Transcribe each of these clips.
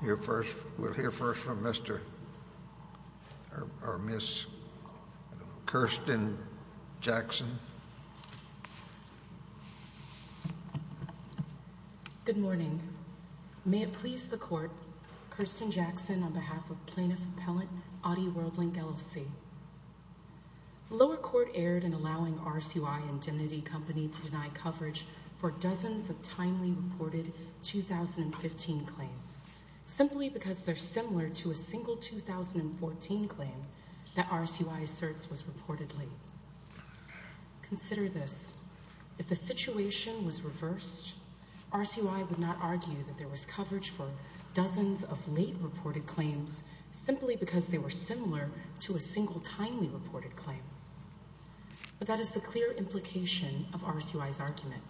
Hear first, we'll hear first from Mr. or Ms. Kirsten Jackson. Good morning. May it please the Court, Kirsten Jackson on behalf of Plaintiff Appellant, ADI Worldlink, L.L.C. The lower court erred in allowing RSUI Indemnity Company to deny coverage for dozens of timely reported 2015 claims, simply because they're similar to a single 2014 claim that RSUI asserts was reported late. Consider this. If the situation was reversed, RSUI would not argue that there was coverage for dozens of late reported claims simply because they were similar to a single timely reported claim. But that is the clear implication of RSUI's argument.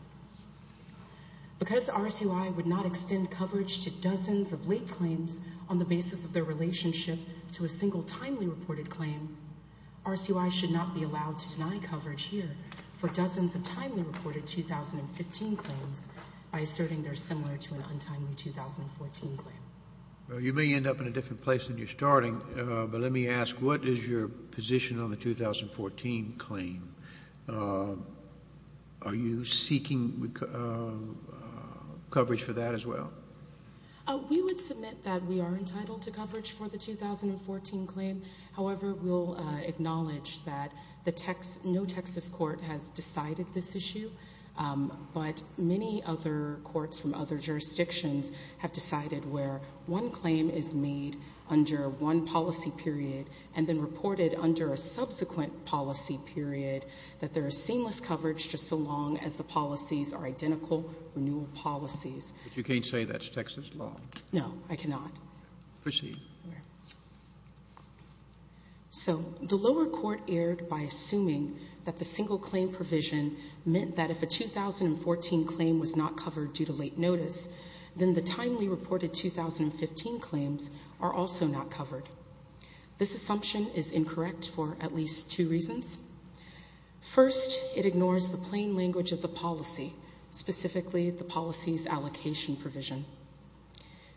Because RSUI would not extend coverage to dozens of late to a single timely reported claim, RSUI should not be allowed to deny coverage here for dozens of timely reported 2015 claims by asserting they're similar to an untimely 2014 claim. Well, you may end up in a different place than you're starting, but let me ask, what is your position on the 2014 claim? Are you seeking coverage for that as well? We would submit that we are entitled to coverage for the 2014 claim. However, we'll acknowledge that no Texas court has decided this issue, but many other courts from other jurisdictions have decided where one claim is made under one policy period and then reported under a subsequent policy period that there is seamless coverage just so long as the policies are No, I cannot. Proceed. So the lower court erred by assuming that the single claim provision meant that if a 2014 claim was not covered due to late notice, then the timely reported 2015 claims are also not covered. This assumption is incorrect for at least two reasons. First, it ignores the plain language of the policy, specifically the policies allocation provision.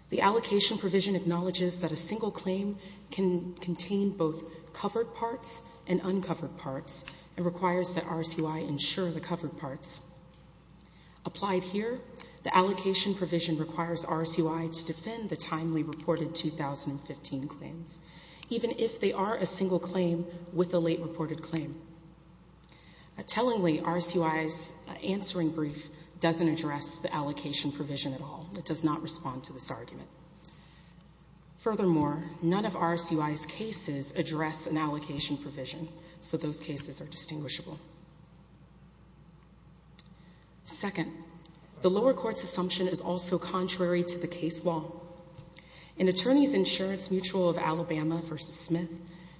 The allocation provision acknowledges that a single claim can contain both covered parts and uncovered parts and requires that RSUI ensure the covered parts. Applied here, the allocation provision requires RSUI to defend the timely reported 2015 claims, even if they are a single claim with a late reported claim. Tellingly, RSUI's answering brief doesn't address the allocation provision at all. It does not respond to this argument. Furthermore, none of RSUI's cases address an allocation provision, so those cases are distinguishable. Second, the lower court's assumption is also contrary to the case law. In attorneys' insurance mutual of Alabama v. Smith,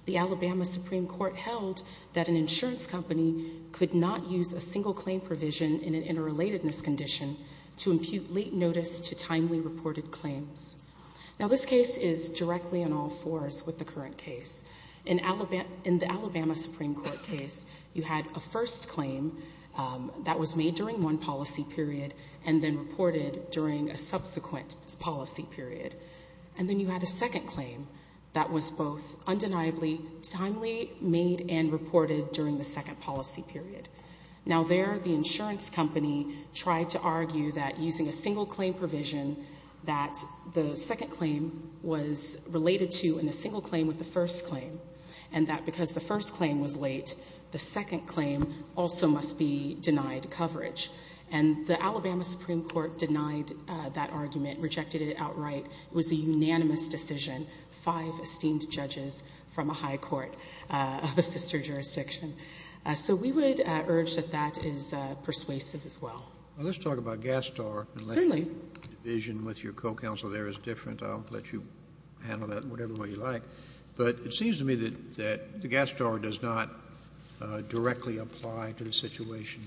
the Alabama Supreme Court held that an insurance company could not use a single claim provision in an interrelatedness condition to impute late notice to timely reported claims. Now, this case is directly on all fours with the current case. In the Alabama Supreme Court case, you had a first claim that was made during one policy period and then reported during a subsequent policy period. And then you had a second claim that was both undeniably timely made and reported during the second policy period. Now, there, the insurance company tried to argue that using a single claim provision that the second claim was related to in a single claim with the first claim and that because the first claim was late, the second claim also must be denied coverage. And the five esteemed judges from a high court of a sister jurisdiction. So we would urge that that is persuasive as well. Now, let's talk about Gastar. Certainly. The vision with your co-counsel there is different. I'll let you handle that whatever way you like. But it seems to me that the Gastar does not directly apply to the situation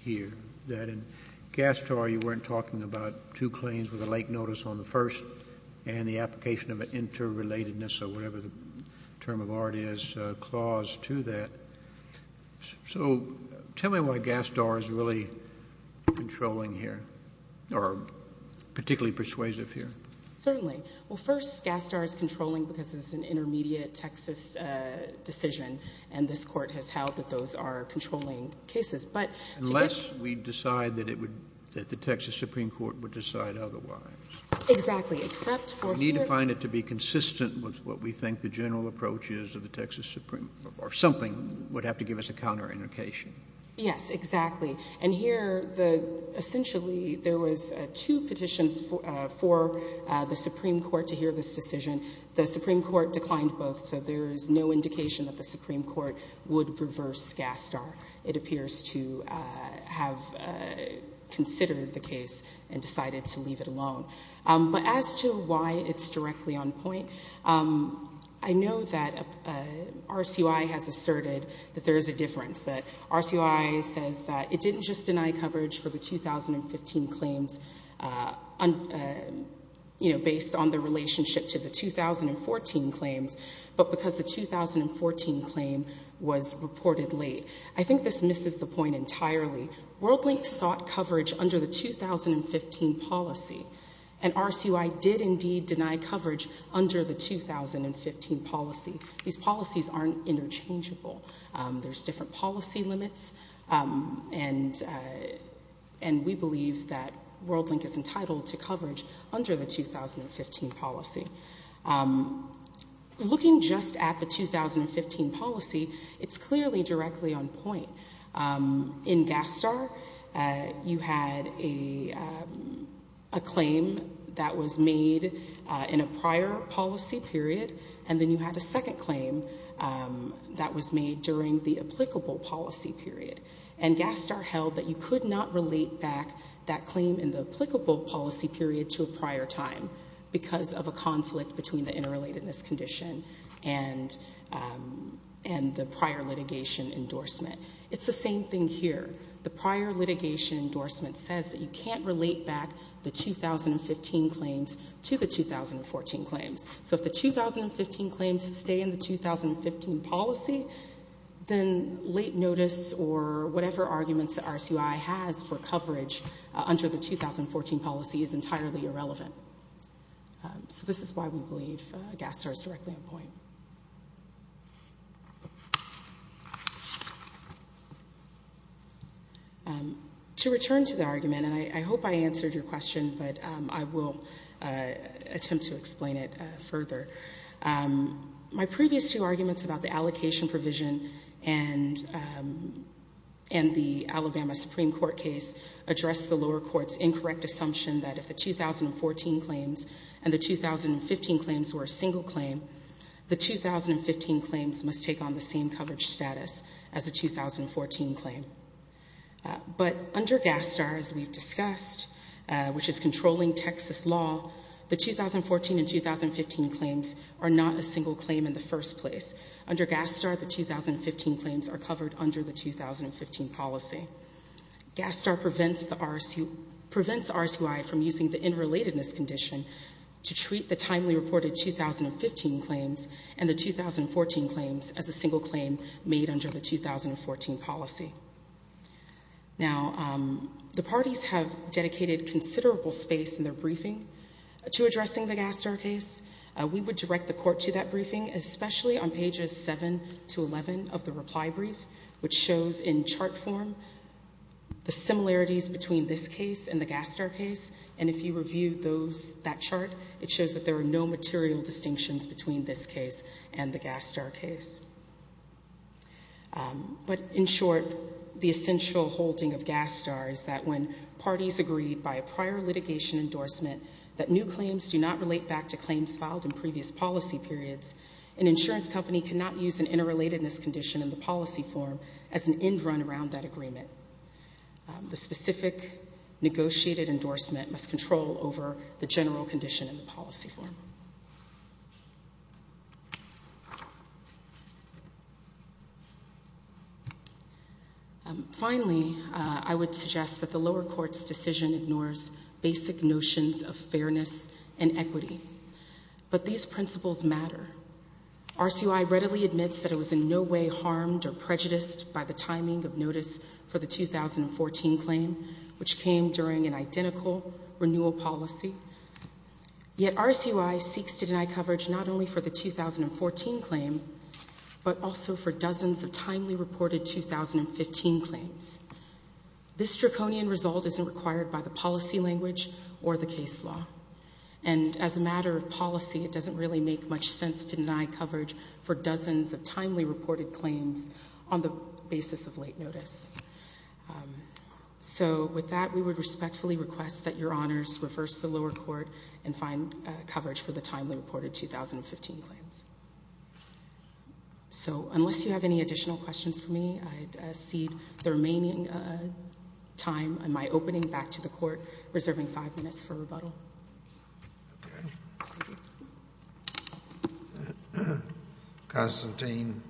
here, that in Gastar you weren't talking about two claims with a late notice on the first and the application of an interrelatedness or whatever the term of art is, a clause to that. So tell me why Gastar is really controlling here, or particularly persuasive here. Certainly. Well, first, Gastar is controlling because it's an intermediate Texas decision, and this Court has held that those are controlling cases. But to get Unless we decide that it would, that the Texas Supreme Court would decide otherwise. Exactly. Except for here We need to find it to be consistent with what we think the general approach is of the Texas Supreme Court, or something would have to give us a counterindication. Yes, exactly. And here, essentially, there was two petitions for the Supreme Court to hear this decision. The Supreme Court declined both, so there is no indication that the Supreme Court would reverse Gastar. It appears to have considered the case and decided to leave it alone. But as to why it's directly on point, I know that RCUI has asserted that there is a difference, that RCUI says that it didn't just deny coverage for the 2015 claims, you know, based on the relationship to the 2014 claims, but because the 2014 claim was reported late. I think this misses the point entirely. WorldLink sought coverage under the 2015 policy, and RCUI did indeed deny coverage under the 2015 policy. These policies aren't interchangeable. There's different policy limits, and we believe that WorldLink is entitled to coverage under the 2015 policy. Looking just at the 2015 policy, it's clearly directly on point. In Gastar, you had a claim that was made in a prior policy period, and then you had a second claim that was made during the applicable policy period. And Gastar held that you could not relate back that conflict between the interrelatedness condition and the prior litigation endorsement. It's the same thing here. The prior litigation endorsement says that you can't relate back the 2015 claims to the 2014 claims. So if the 2015 claims stay in the 2015 policy, then late notice or whatever arguments that RCUI has for coverage under the 2014 policy is entirely irrelevant. So this is why we believe Gastar is directly on point. To return to the argument, and I hope I answered your question, but I will attempt to explain it further. My previous two arguments about the allocation provision and the Alabama Supreme Court case addressed the lower court's incorrect assumption that if the 2014 claims and the 2015 claims were a single claim, the 2015 claims must take on the same coverage status as a 2014 claim. But under Gastar, as we've discussed, which is controlling Texas law, the 2014 and 2015 claims are not a single claim in the first place. Under Gastar, the Gastar prevents RCUI from using the interrelatedness condition to treat the timely reported 2015 claims and the 2014 claims as a single claim made under the 2014 policy. Now, the parties have dedicated considerable space in their briefing to addressing the Gastar case. We would direct the court to that briefing, especially on pages 7 to 11 of the reply brief, which shows in chart form the similarities between this case and the Gastar case. And if you review that chart, it shows that there are no material distinctions between this case and the Gastar case. But in short, the essential holding of Gastar is that when parties agree by a prior litigation endorsement that new claims do not relate back to claims filed in previous policy periods, an insurance company cannot use an interrelatedness condition in the policy form as an end run around that agreement. The specific negotiated endorsement must control over the general condition in the policy form. Finally, I would suggest that the lower court's decision ignores basic notions of fairness and equity. But these principles matter. RCUI readily admits that it was in no way harmed or prejudiced by the timing of notice for the 2014 claim, which came during an identical renewal policy. Yet RCUI seeks to deny coverage not only for the 2014 claim, but also for dozens of timely reported 2015 claims. This draconian result isn't required by the policy language or the case law. And as a matter of policy, it doesn't really make much sense to deny coverage for dozens of timely reported claims on the basis of late notice. So with that, we would respectfully request that Your Honors reverse the lower court and find coverage for the timely reported 2015 claims. So unless you have any additional questions for me, I cede the remaining time and my opening back to the court, reserving five minutes for rebuttal. Constantine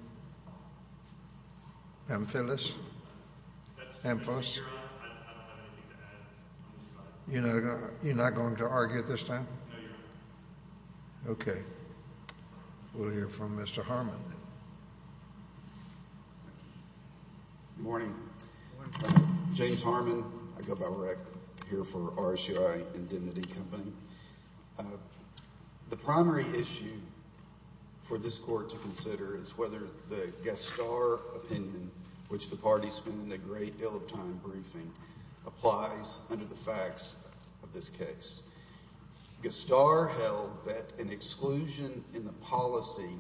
Amphilis? Amphilis? You're not going to argue at this time? Okay. We'll hear from Mr. Harmon. Good morning. James Harmon, I go by Rick, here for RCUI Indemnity Company. The primary issue for this court to consider is whether the Guest Star opinion, which the party spent a great deal of time briefing, applies under the facts of this case. Guest Star held that an exclusion in the policy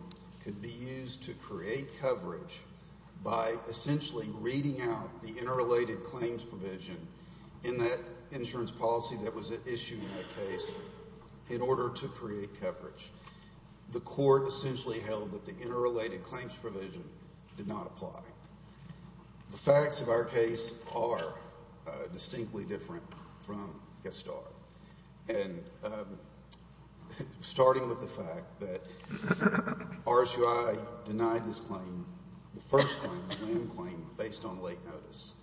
could be used to create coverage by essentially reading out the interrelated claims provision in that insurance policy that was issued in that case in order to create coverage. The court essentially held that the interrelated claims provision did not apply. The facts of our case are distinctly different from Guest Star. And starting with the fact that RCUI denied this claim, the first claim, the LAM claim, based on late notice.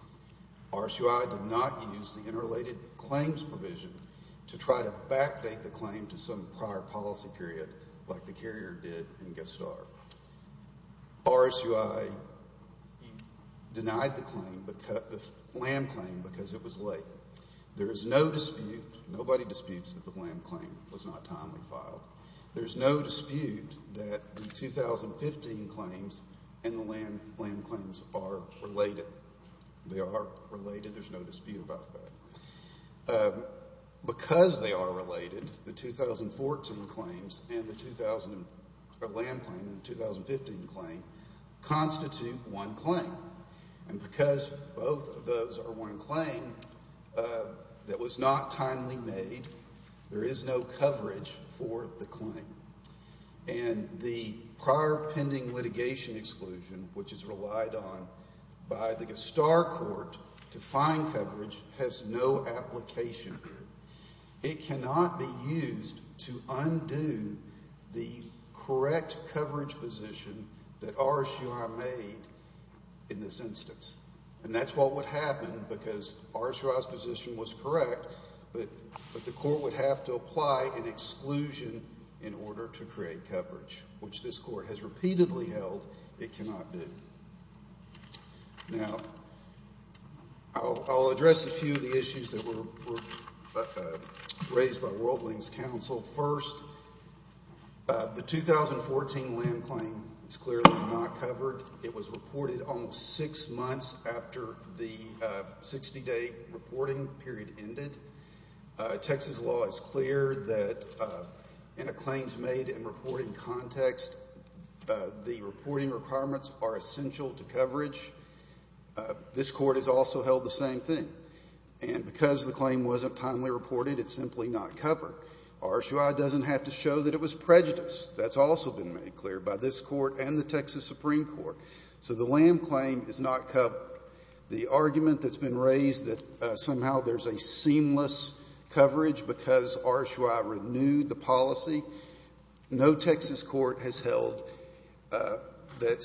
RCUI did not use the interrelated claims provision to try to backdate the claim to some prior policy period like the carrier did in Guest Star. RCUI denied the claim, the LAM claim, because it was late. There is no dispute, nobody disputes that the LAM claim was not timely filed. There's no dispute that the 2015 claims and the LAM claims are related. They are related, there's no dispute about that. Because they are related, the 2014 claims and the LAM claim and the 2015 claim constitute one claim. And because both of those are one claim that was not timely made, there is no coverage for the claim. And the prior pending litigation exclusion, which is relied on by the Guest Star court to find coverage, has no application. It cannot be used to undo the correct coverage position that RCUI made. In this instance. And that's what would happen because RCUI's position was correct, but the court would have to apply an exclusion in order to create coverage, which this court has repeatedly held it cannot do. Now, I'll address a few of the issues that were raised by World Wings Council. First, the 2014 LAM claim is clearly not covered. It was reported almost six months after the 60-day reporting period ended. Texas law is clear that in a claims made and reporting context, this court has also held the same thing. And because the claim wasn't timely reported, it's simply not covered. RCUI doesn't have to show that it was prejudice. That's also been made clear by this court and the Texas Supreme Court. So the LAM claim is not covered. The argument that's been raised that somehow there's a seamless coverage because RCUI renewed the policy, no Texas court has held that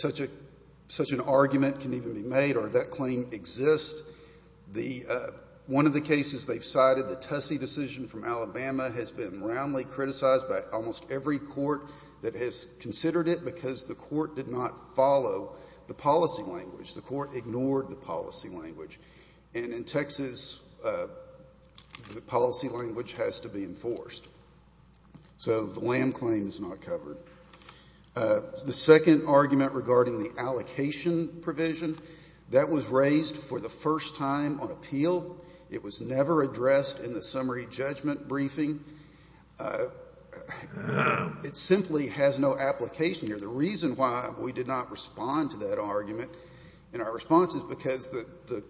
such an argument can even be made or that claim exists. One of the cases they've cited, the Tussey decision from Alabama, has been roundly criticized by almost every court that has considered it because the court did not follow the policy language. The court ignored the policy language. And in Texas, the policy language has to be enforced. So the LAM claim is not covered. The second argument regarding the allocation provision, that was raised for the first time on appeal. It was never addressed in the summary judgment briefing. It simply has no application here. The reason why we did not respond to that argument in our response is because the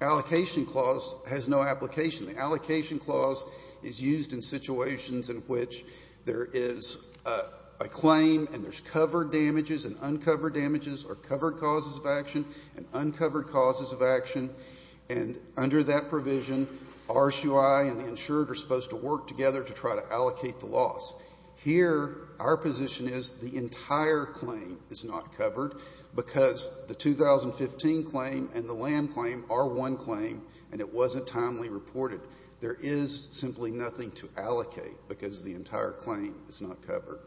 allocation clause has no application. The allocation clause is used in situations in which there is a claim and there's covered damages and uncovered damages or covered causes of action and uncovered causes of action. And under that provision, RCUI and the insured are supposed to work together to try to allocate the loss. Here, our position is the entire claim is not covered because the 2015 claim and the LAM claim are one claim and it wasn't timely reported. There is simply nothing to allocate because the entire claim is not covered.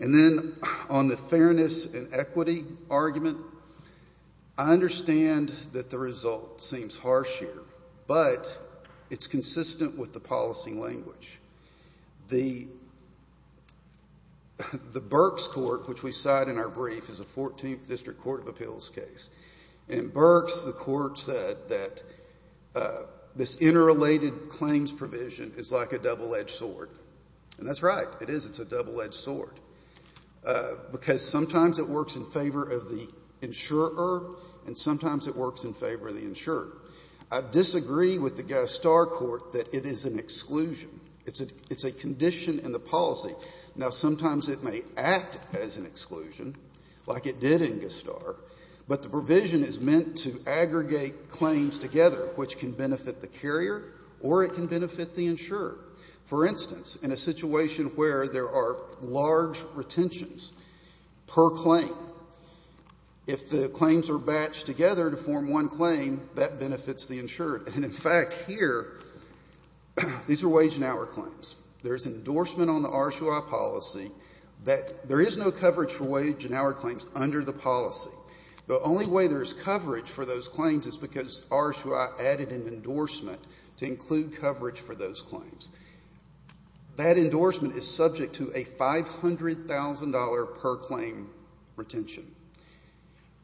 And then on the fairness and equity argument, I understand that the result seems harsh here, but it's consistent with the policy language. The Berks court, which we cite in our brief, is a 14th District Court of Appeals case. In Berks, the court said that this interrelated claims provision is like a double-edged sword. And that's right. It is. It's a double-edged sword. Because sometimes it works in favor of the insurer and sometimes it works in favor of the insurer. I disagree with the Gostar court that it is an exclusion. It's a condition in the policy. Now, sometimes it may act as an exclusion, like it did in Gostar, but the provision is meant to aggregate claims together, which can benefit the carrier or it can benefit the insurer. For instance, in a situation where there are large retentions per claim, if the claims are batched together to form one claim, that benefits the insurer. And in fact, here, these are wage and hour claims. There's endorsement on the RSOI policy that there is no coverage for wage and hour claims under the policy. The only way there is coverage for those claims is because RSOI added an endorsement to include coverage for those claims. That endorsement is subject to a $500,000 per claim retention.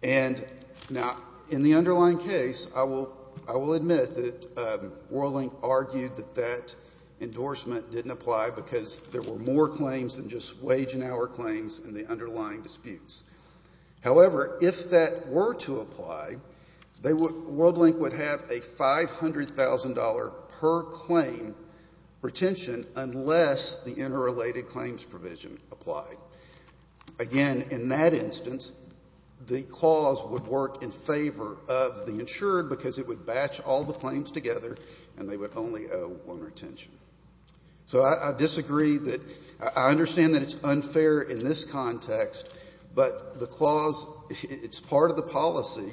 And now, in the underlying case, I will admit that Worling argued that that endorsement didn't apply because there were more claims than just wage and hour claims in the underlying disputes. However, if that were to apply, they would — Worling would have a $500,000 per claim retention unless the interrelated claims provision applied. Again, in that instance, the clause would work in favor of the insurer because it would batch all the claims together and they would only owe one retention. So I disagree that — I understand that it's unfair in this context, but the clause, it's part of the policy,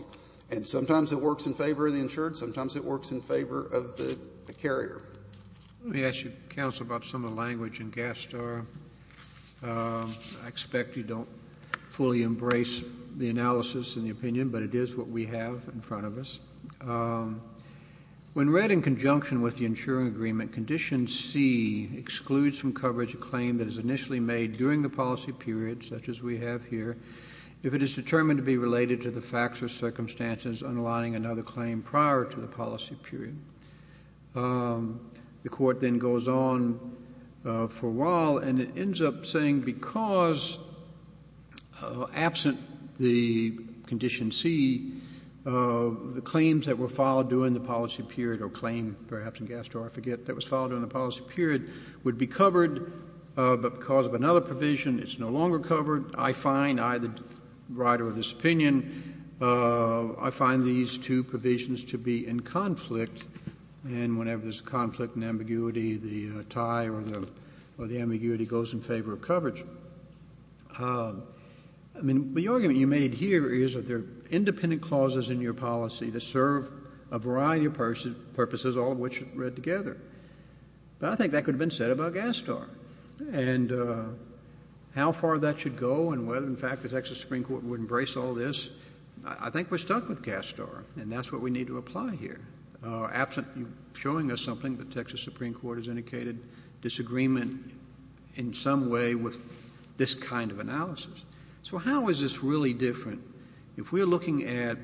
and sometimes it works in favor of the insured, sometimes it works in favor of the carrier. Let me ask you, counsel, about some of the language in Gastar. I expect you don't fully embrace the analysis and the opinion, but it is what we have in front of us. When read in conjunction with the insuring agreement, Condition C excludes from coverage a claim that is initially made during the policy period, such as we have here, if it is determined to be related to the facts or circumstances underlying another claim prior to the policy period. The Court then goes on for a while and it ends up saying because, absent the Condition C, the claims that were followed during the policy period or claim, perhaps, in Gastar, I forget, that was followed during the policy period would be covered, but because of another provision, it's no longer covered. I find, I, the writer of this opinion, I find these two provisions to be in conflict, and whenever there's conflict and ambiguity, the tie or the ambiguity goes in favor of coverage. I mean, the argument you made here is that there are independent clauses in your policy to serve a variety of purposes, all of which read together. But I think that could have been said about Gastar. And how far that should go and whether, in fact, the Texas Supreme Court would embrace all this, I think we're stuck with Gastar, and that's what we need to apply here. Absent you showing us something, the Texas Supreme Court has indicated disagreement in some way with this kind of analysis. So how is this really different? If we're looking at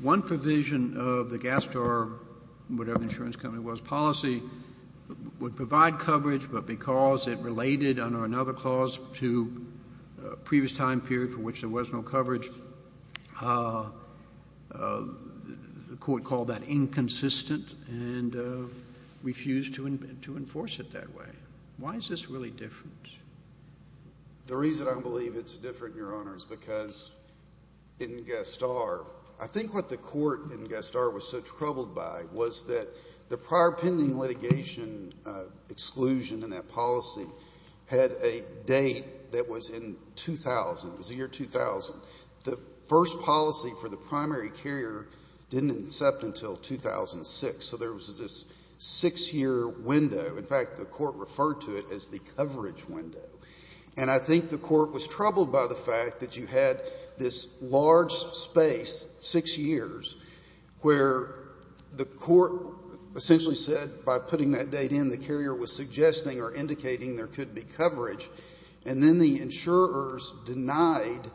one provision of the Gastar, whatever the insurance company was, policy, would provide coverage, the Court called that inconsistent and refused to enforce it that way. Why is this really different? The reason I believe it's different, Your Honors, because in Gastar, I think what the Court in Gastar was so troubled by was that the prior pending litigation exclusion in that policy had a date that was in 2000. It was the year 2000. The first policy for the primary carrier didn't incept until 2006. So there was this 6-year window. In fact, the Court referred to it as the coverage window. And I think the Court was troubled by the fact that you had this large space, 6 years, where the Court essentially said by putting that date in, the carrier was suggesting or indicating there could be coverage, and then the insurers denied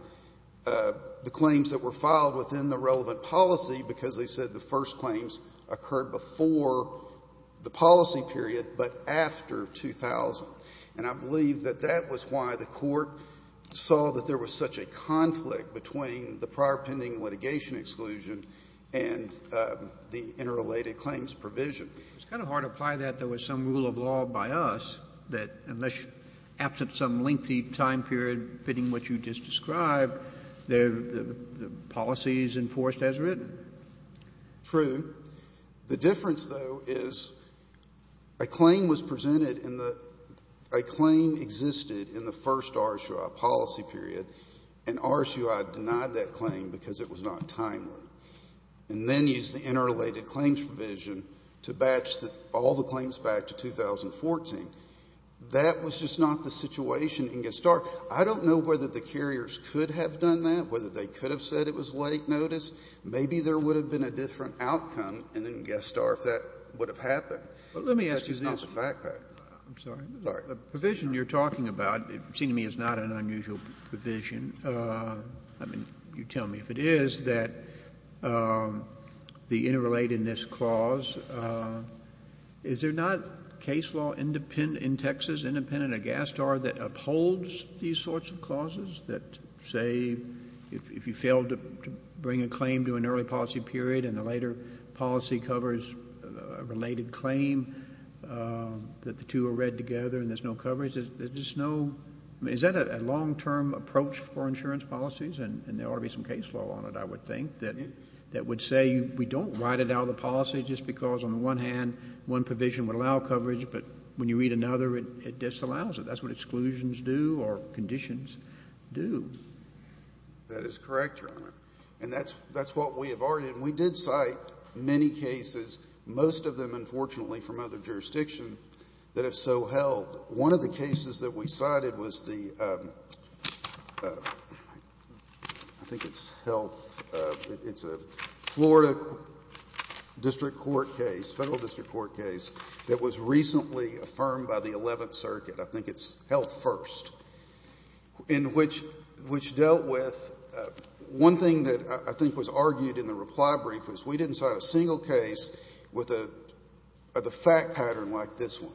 the claims that were filed within the relevant policy because they said the first claims occurred before the policy period but after 2000. And I believe that that was why the Court saw that there was such a conflict between the prior pending litigation exclusion and the interrelated claims provision. It's kind of hard to apply that there was some rule of law by us that unless absent some lengthy time period fitting what you just described, the policy is enforced as written. True. The difference, though, is a claim was presented in the ‑‑ a claim existed in the first RSUI policy period, and RSUI denied that claim because it was not timely and then used the interrelated claims provision to batch all the claims back to 2014. That was just not the situation in Gestar. I don't know whether the carriers could have done that, whether they could have said it was late notice. Maybe there would have been a different outcome in Gestar if that would have happened. But let me ask you this. That's just not the fact that ‑‑ I'm sorry. Sorry. The provision you're talking about, it seems to me, is not an unusual provision. I mean, you tell me if it is, that the interrelatedness clause, is there not case law in Texas, independent of Gestar, that upholds these sorts of clauses that say if you fail to bring a claim to an early policy period and the later policy covers a related claim, that the two are read together and there's no coverage? Is that a long‑term approach for insurance policies? And there ought to be some case law on it, I would think, that would say we don't write it out of the policy just because, on the one hand, one provision would allow coverage, but when you read another, it disallows it. That's what exclusions do or conditions do. That is correct, Your Honor. And that's what we have argued. And we did cite many cases, most of them, unfortunately, from other jurisdictions that have so held. One of the cases that we cited was the, I think it's health, it's a Florida district court case, federal district court case, that was recently affirmed by the 11th Circuit, I think it's health first, in which dealt with one thing that I think was argued in the reply brief was we didn't cite a single case with the fact pattern like this one.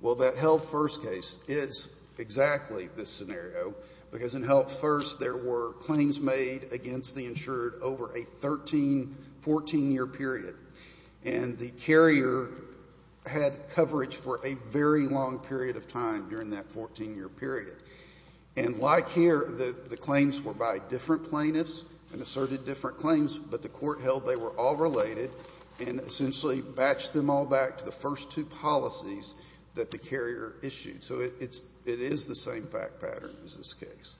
Well, that health first case is exactly this scenario because in health first there were claims made against the insured over a 13, 14‑year period. And the carrier had coverage for a very long period of time during that 14‑year period. And like here, the claims were by different plaintiffs and asserted different claims, but the court held they were all related and essentially batched them all back to the first two policies that the carrier issued. So it is the same fact pattern as this case.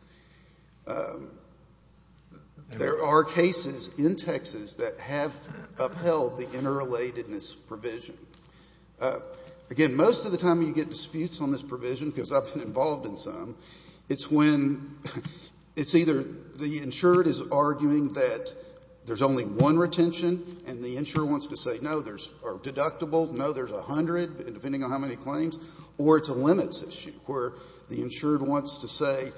There are cases in Texas that have upheld the interrelatedness provision. Again, most of the time when you get disputes on this provision, because I've been involved in some, it's when it's either the insured is arguing that there's only one retention and the insured wants to say, no, there's deductible, no, there's 100, depending on how many claims, or it's a limits issue where the insured wants to say,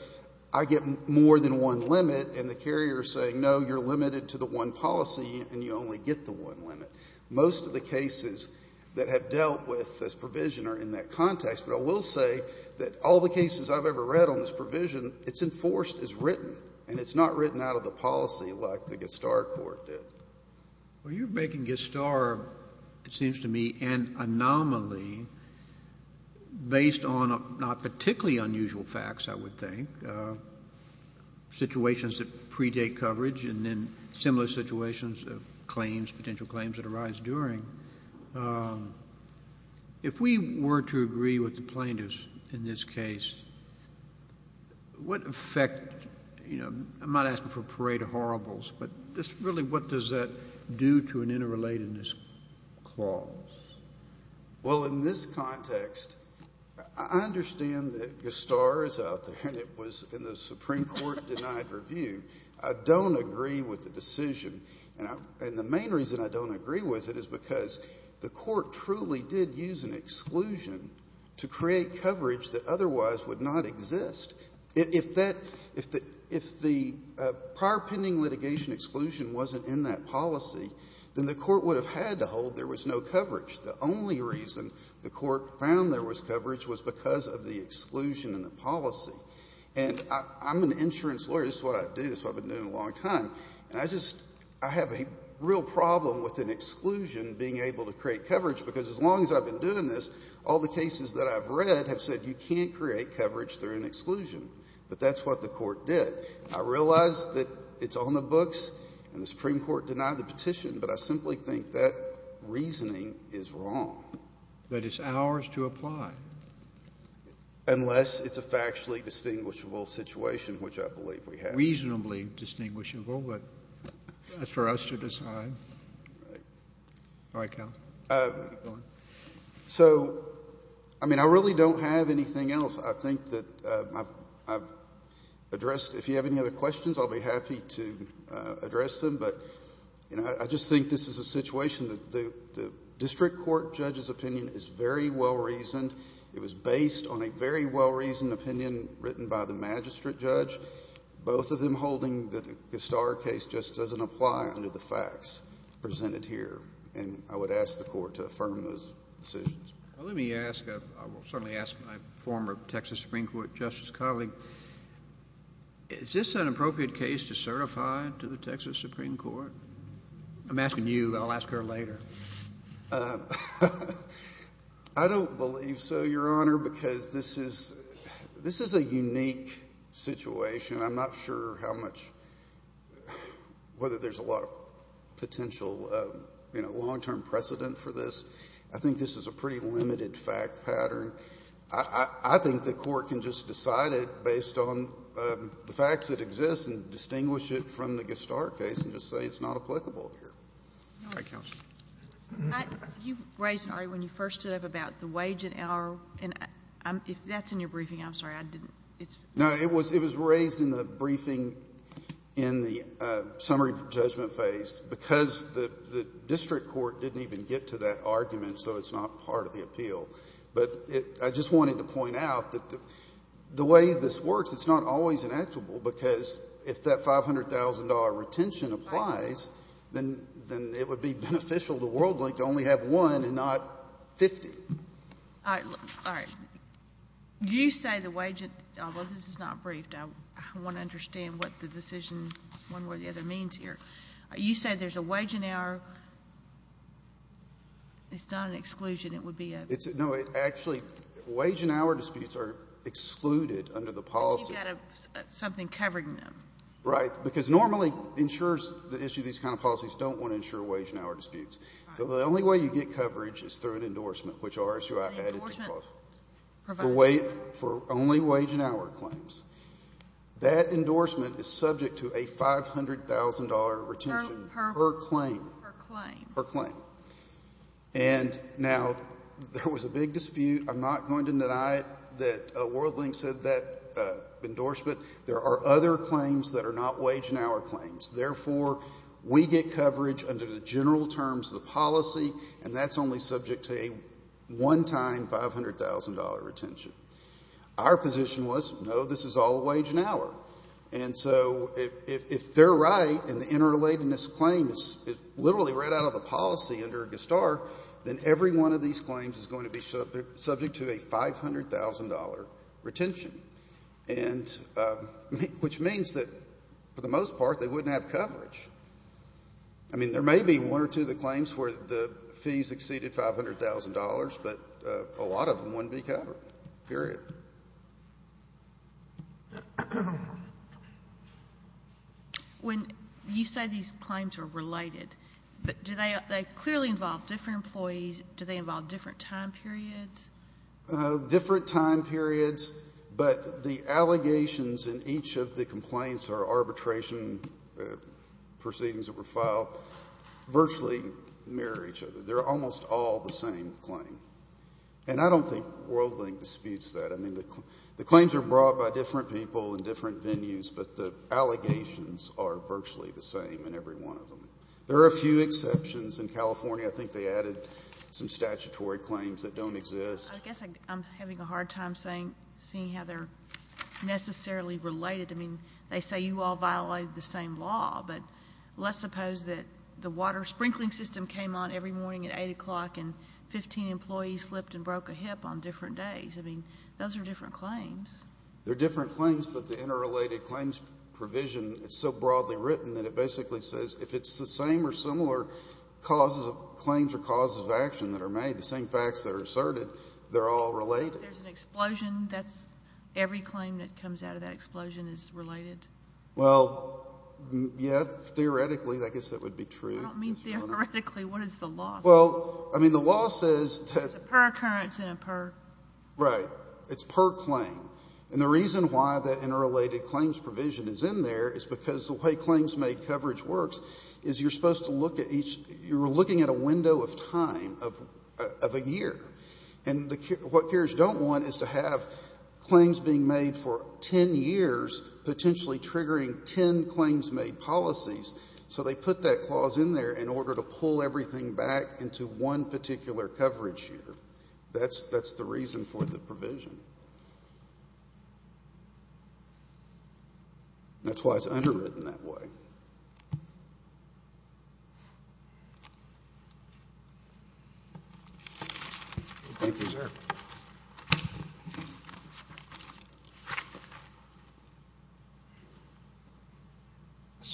I get more than one limit, and the carrier is saying, no, you're limited to the one policy and you only get the one limit. Most of the cases that have dealt with this provision are in that context. But I will say that all the cases I've ever read on this provision, it's enforced and it's written, and it's not written out of the policy like the Gestarr court did. Well, you're making Gestarr, it seems to me, an anomaly based on not particularly unusual facts, I would think, situations that predate coverage and then similar situations of claims, potential claims that arise during. If we were to agree with the plaintiffs in this case, what effect, you know, I might ask them for parade of horribles, but really what does that do to an interrelatedness clause? Well, in this context, I understand that Gestarr is out there and it was in the Supreme Court denied review. I don't agree with the decision. And the main reason I don't agree with it is because the court truly did use an exclusion to create coverage that otherwise would not exist. If the prior pending litigation exclusion wasn't in that policy, then the court would have had to hold there was no coverage. The only reason the court found there was coverage was because of the exclusion in the policy. And I'm an insurance lawyer. This is what I do. This is what I've been doing a long time. And I just, I have a real problem with an exclusion being able to create coverage because as long as I've been doing this, all the cases that I've read have said you can't create coverage through an exclusion. But that's what the court did. I realize that it's on the books and the Supreme Court denied the petition, but I simply think that reasoning is wrong. That it's ours to apply. Unless it's a factually distinguishable situation, which I believe we have. It's not reasonably distinguishable, but that's for us to decide. All right, counsel. Keep going. So, I mean, I really don't have anything else I think that I've addressed. If you have any other questions, I'll be happy to address them. But, you know, I just think this is a situation that the district court judge's opinion is very well reasoned. It was based on a very well reasoned opinion written by the magistrate judge. Both of them holding that the Gostara case just doesn't apply under the facts presented here. And I would ask the court to affirm those decisions. Let me ask, I will certainly ask my former Texas Supreme Court justice colleague, is this an appropriate case to certify to the Texas Supreme Court? I'm asking you. I'll ask her later. I don't believe so, Your Honor, because this is a unique situation. I'm not sure how much, whether there's a lot of potential, you know, long-term precedent for this. I think this is a pretty limited fact pattern. I think the court can just decide it based on the facts that exist and distinguish it from the Gostara case and just say it's not applicable here. All right. Counsel. You raised, Ari, when you first stood up about the wage and LRO. If that's in your briefing, I'm sorry, I didn't. No, it was raised in the briefing in the summary judgment phase because the district court didn't even get to that argument, so it's not part of the appeal. But I just wanted to point out that the way this works, it's not always inexorable because if that $500,000 retention applies, then it would be beneficial to WorldLink to only have one and not 50. All right. Do you say the wage and LRO, this is not briefed. I want to understand what the decision, one way or the other, means here. You say there's a wage and hour. It's not an exclusion. It would be a ---- Something covering them. Right. Because normally insurers that issue these kind of policies don't want to insure wage and hour disputes. So the only way you get coverage is through an endorsement, which RSUI added to the clause. The endorsement provided. For only wage and hour claims. That endorsement is subject to a $500,000 retention per claim. Per claim. Per claim. And now, there was a big dispute. I'm not going to deny that WorldLink said that endorsement. There are other claims that are not wage and hour claims. Therefore, we get coverage under the general terms of the policy, and that's only subject to a one-time $500,000 retention. Our position was, no, this is all wage and hour. And so if they're right, and the interrelatedness claim is literally right out of policy under GSTAR, then every one of these claims is going to be subject to a $500,000 retention. And which means that, for the most part, they wouldn't have coverage. I mean, there may be one or two of the claims where the fees exceeded $500,000, but a lot of them wouldn't be covered. Period. When you say these claims are related, but do they clearly involve different employees? Do they involve different time periods? Different time periods, but the allegations in each of the complaints or arbitration proceedings that were filed virtually mirror each other. They're almost all the same claim. And I don't think WorldLink disputes that. I mean, the claims are brought by different people in different venues, but the allegations are virtually the same in every one of them. There are a few exceptions. In California, I think they added some statutory claims that don't exist. I guess I'm having a hard time seeing how they're necessarily related. I mean, they say you all violated the same law, but let's suppose that the water sprinkling system came on every morning at 8 o'clock, and 15 employees slipped and broke a hip on different days. I mean, those are different claims. They're different claims, but the interrelated claims provision is so broadly written that it basically says if it's the same or similar claims or causes of action that are made, the same facts that are asserted, they're all related. There's an explosion. That's every claim that comes out of that explosion is related. Well, yeah, theoretically, I guess that would be true. I don't mean theoretically. What is the law? Well, I mean, the law says that... Right. It's per claim. And the reason why that interrelated claims provision is in there is because the way claims-made coverage works is you're supposed to look at each you're looking at a window of time of a year. And what peers don't want is to have claims being made for ten years, potentially triggering ten claims-made policies. So they put that clause in there in order to pull everything back into one particular coverage year. That's the reason for the provision. That's why it's underwritten that way. Thank you, sir. Ms.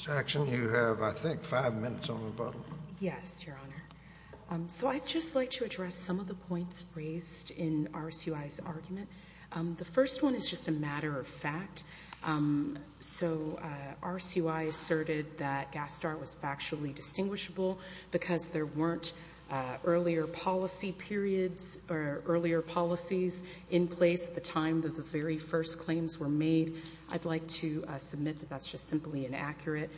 Jackson, you have, I think, five minutes on the button. Yes, Your Honor. So I'd just like to address some of the points raised in RCUI's argument. The first one is just a matter of fact. So RCUI asserted that GASTAR was factually distinguishable because there weren't earlier policy periods or earlier policies in place at the time that the very first claims were made. I'd like to submit that that's just simply inaccurate.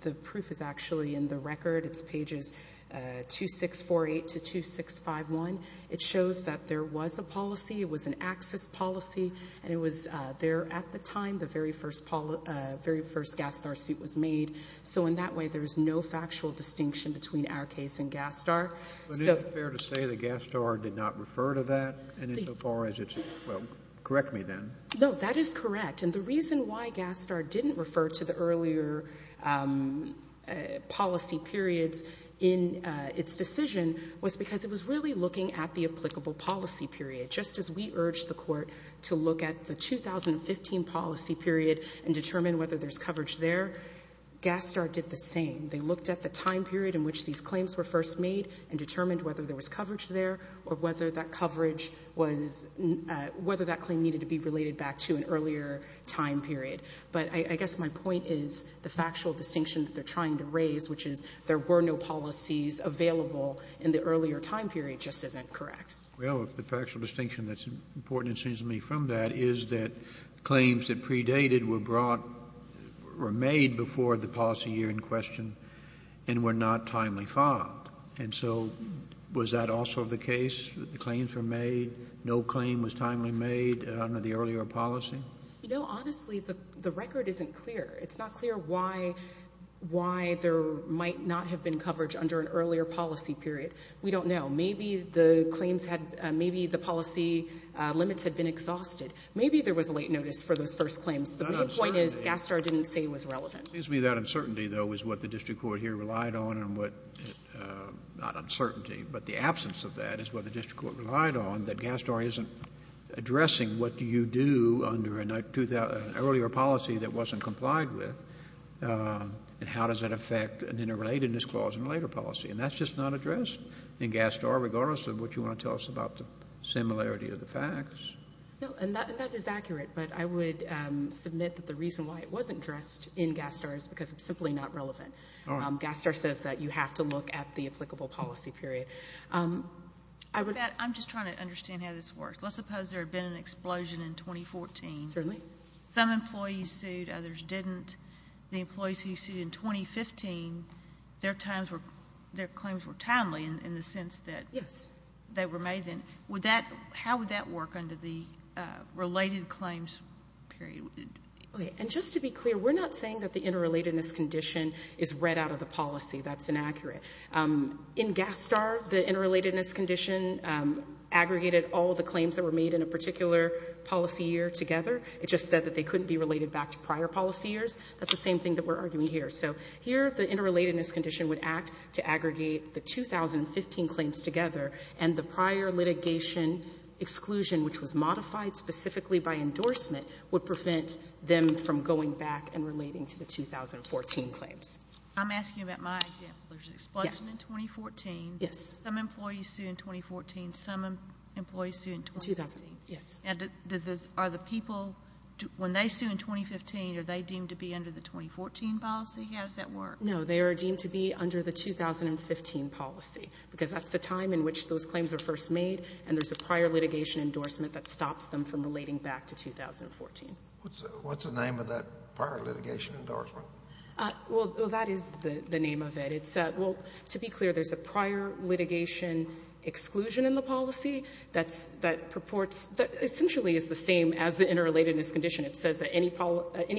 The proof is actually in the record. It's pages 2648 to 2651. It shows that there was a policy. It was an access policy, and it was there at the time the very first GASTAR suit was made. So in that way, there's no factual distinction between our case and GASTAR. But isn't it fair to say that GASTAR did not refer to that insofar as it's, well, correct me then. No, that is correct. And the reason why GASTAR didn't refer to the earlier policy periods in its decision was because it was really looking at the applicable policy period. Just as we urged the court to look at the 2015 policy period and determine whether there's coverage there, GASTAR did the same. They looked at the time period in which these claims were first made and determined whether there was coverage there or whether that claim needed to be related back to an earlier time period. But I guess my point is the factual distinction that they're trying to raise, which is there were no policies available in the earlier time period, just isn't correct. Well, the factual distinction that's important, it seems to me, from that is that claims that predated were brought, were made before the policy year in question and were not timely filed. And so was that also the case, that the claims were made, no claim was timely made under the earlier policy? No, honestly, the record isn't clear. It's not clear why there might not have been coverage under an earlier policy period. We don't know. Maybe the claims had, maybe the policy limits had been exhausted. Maybe there was a late notice for those first claims. The main point is GASTAR didn't say it was relevant. It seems to me that uncertainty, though, is what the district court here relied on and what, not uncertainty, but the absence of that is what the district court relied on, that GASTAR isn't addressing what do you do under an earlier policy that wasn't complied with and how does that affect an interrelatedness clause in a later policy. And that's just not addressed in GASTAR, regardless of what you want to tell us about the similarity of the facts. No, and that is accurate, but I would submit that the reason why it wasn't addressed in GASTAR is because it's simply not relevant. GASTAR says that you have to look at the applicable policy period. I'm just trying to understand how this works. Let's suppose there had been an explosion in 2014. Certainly. Some employees sued, others didn't. The employees who sued in 2015, their claims were timely in the sense that they were made then. How would that work under the related claims period? Okay, and just to be clear, we're not saying that the interrelatedness condition is read out of the policy. That's inaccurate. In GASTAR, the interrelatedness condition aggregated all the claims that were made in a particular policy year together. It just said that they couldn't be related back to prior policy years. That's the same thing that we're arguing here. So here the interrelatedness condition would act to aggregate the 2015 claims together, and the prior litigation exclusion, which was modified specifically by endorsement, would prevent them from going back and relating to the 2014 claims. I'm asking about my example. There's an explosion in 2014. Yes. Some employees sued in 2014. Some employees sued in 2015. Yes. And are the people, when they sue in 2015, are they deemed to be under the 2014 policy? How does that work? No, they are deemed to be under the 2015 policy because that's the time in which those claims are first made, and there's a prior litigation endorsement that stops them from relating back to 2014. What's the name of that prior litigation endorsement? Well, that is the name of it. It's, well, to be clear, there's a prior litigation exclusion in the policy that purports, that essentially is the same as the interrelatedness condition. It says that any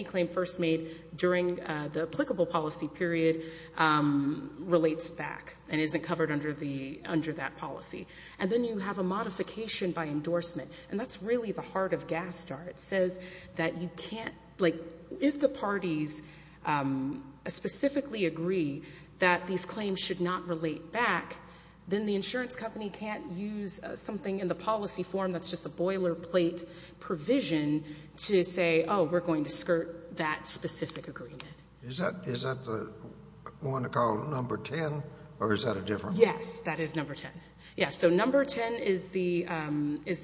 claim first made during the applicable policy period relates back and isn't covered under that policy. And then you have a modification by endorsement, and that's really the heart of GASTAR. It says that you can't, like, if the parties specifically agree that these claims should not relate back, then the insurance company can't use something in the policy form that's just a boilerplate provision to say, oh, we're going to skirt that specific agreement. Is that the one they call number 10, or is that a different one? Yes, that is number 10. Yes, so number 10 is the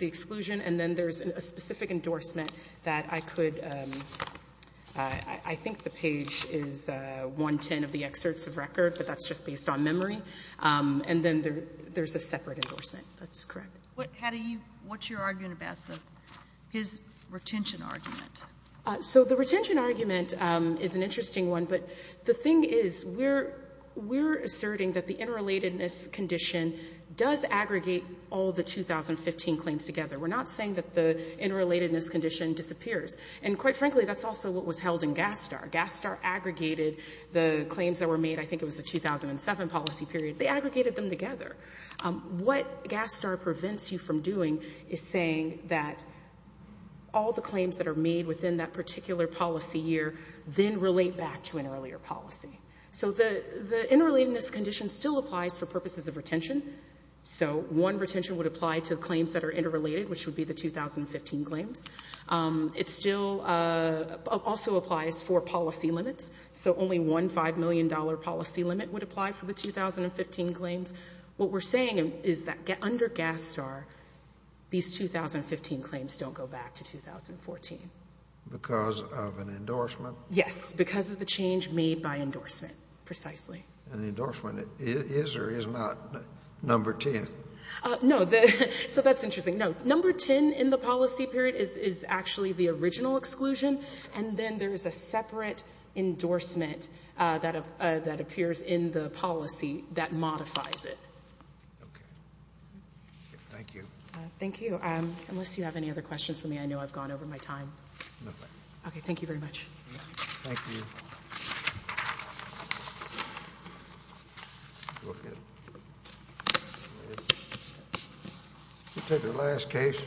exclusion, and then there's a specific endorsement that I could, I think the page is 110 of the excerpts of record, but that's just based on memory. And then there's a separate endorsement. That's correct. What's your argument about his retention argument? So the retention argument is an interesting one, but the thing is, we're asserting that the interrelatedness condition does aggregate all the 2015 claims together. We're not saying that the interrelatedness condition disappears. And quite frankly, that's also what was held in GASTAR. GASTAR aggregated the claims that were made, I think it was the 2007 policy period. They aggregated them together. What GASTAR prevents you from doing is saying that all the claims that are made within that particular policy year then relate back to an earlier policy. So the interrelatedness condition still applies for purposes of retention. So one retention would apply to claims that are interrelated, which would be the 2015 claims. It still also applies for policy limits. So only one $5 million policy limit would apply for the 2015 claims. What we're saying is that under GASTAR, these 2015 claims don't go back to 2014. Because of an endorsement? Yes. Because of the change made by endorsement, precisely. And the endorsement is or is not number 10? No. So that's interesting. No. Number 10 in the policy period is actually the original exclusion, and then there's a separate endorsement that appears in the policy that modifies it. Okay. Thank you. Thank you. Unless you have any other questions for me, I know I've gone over my time. No problem. Okay. Thank you very much. Thank you. We'll take the last case.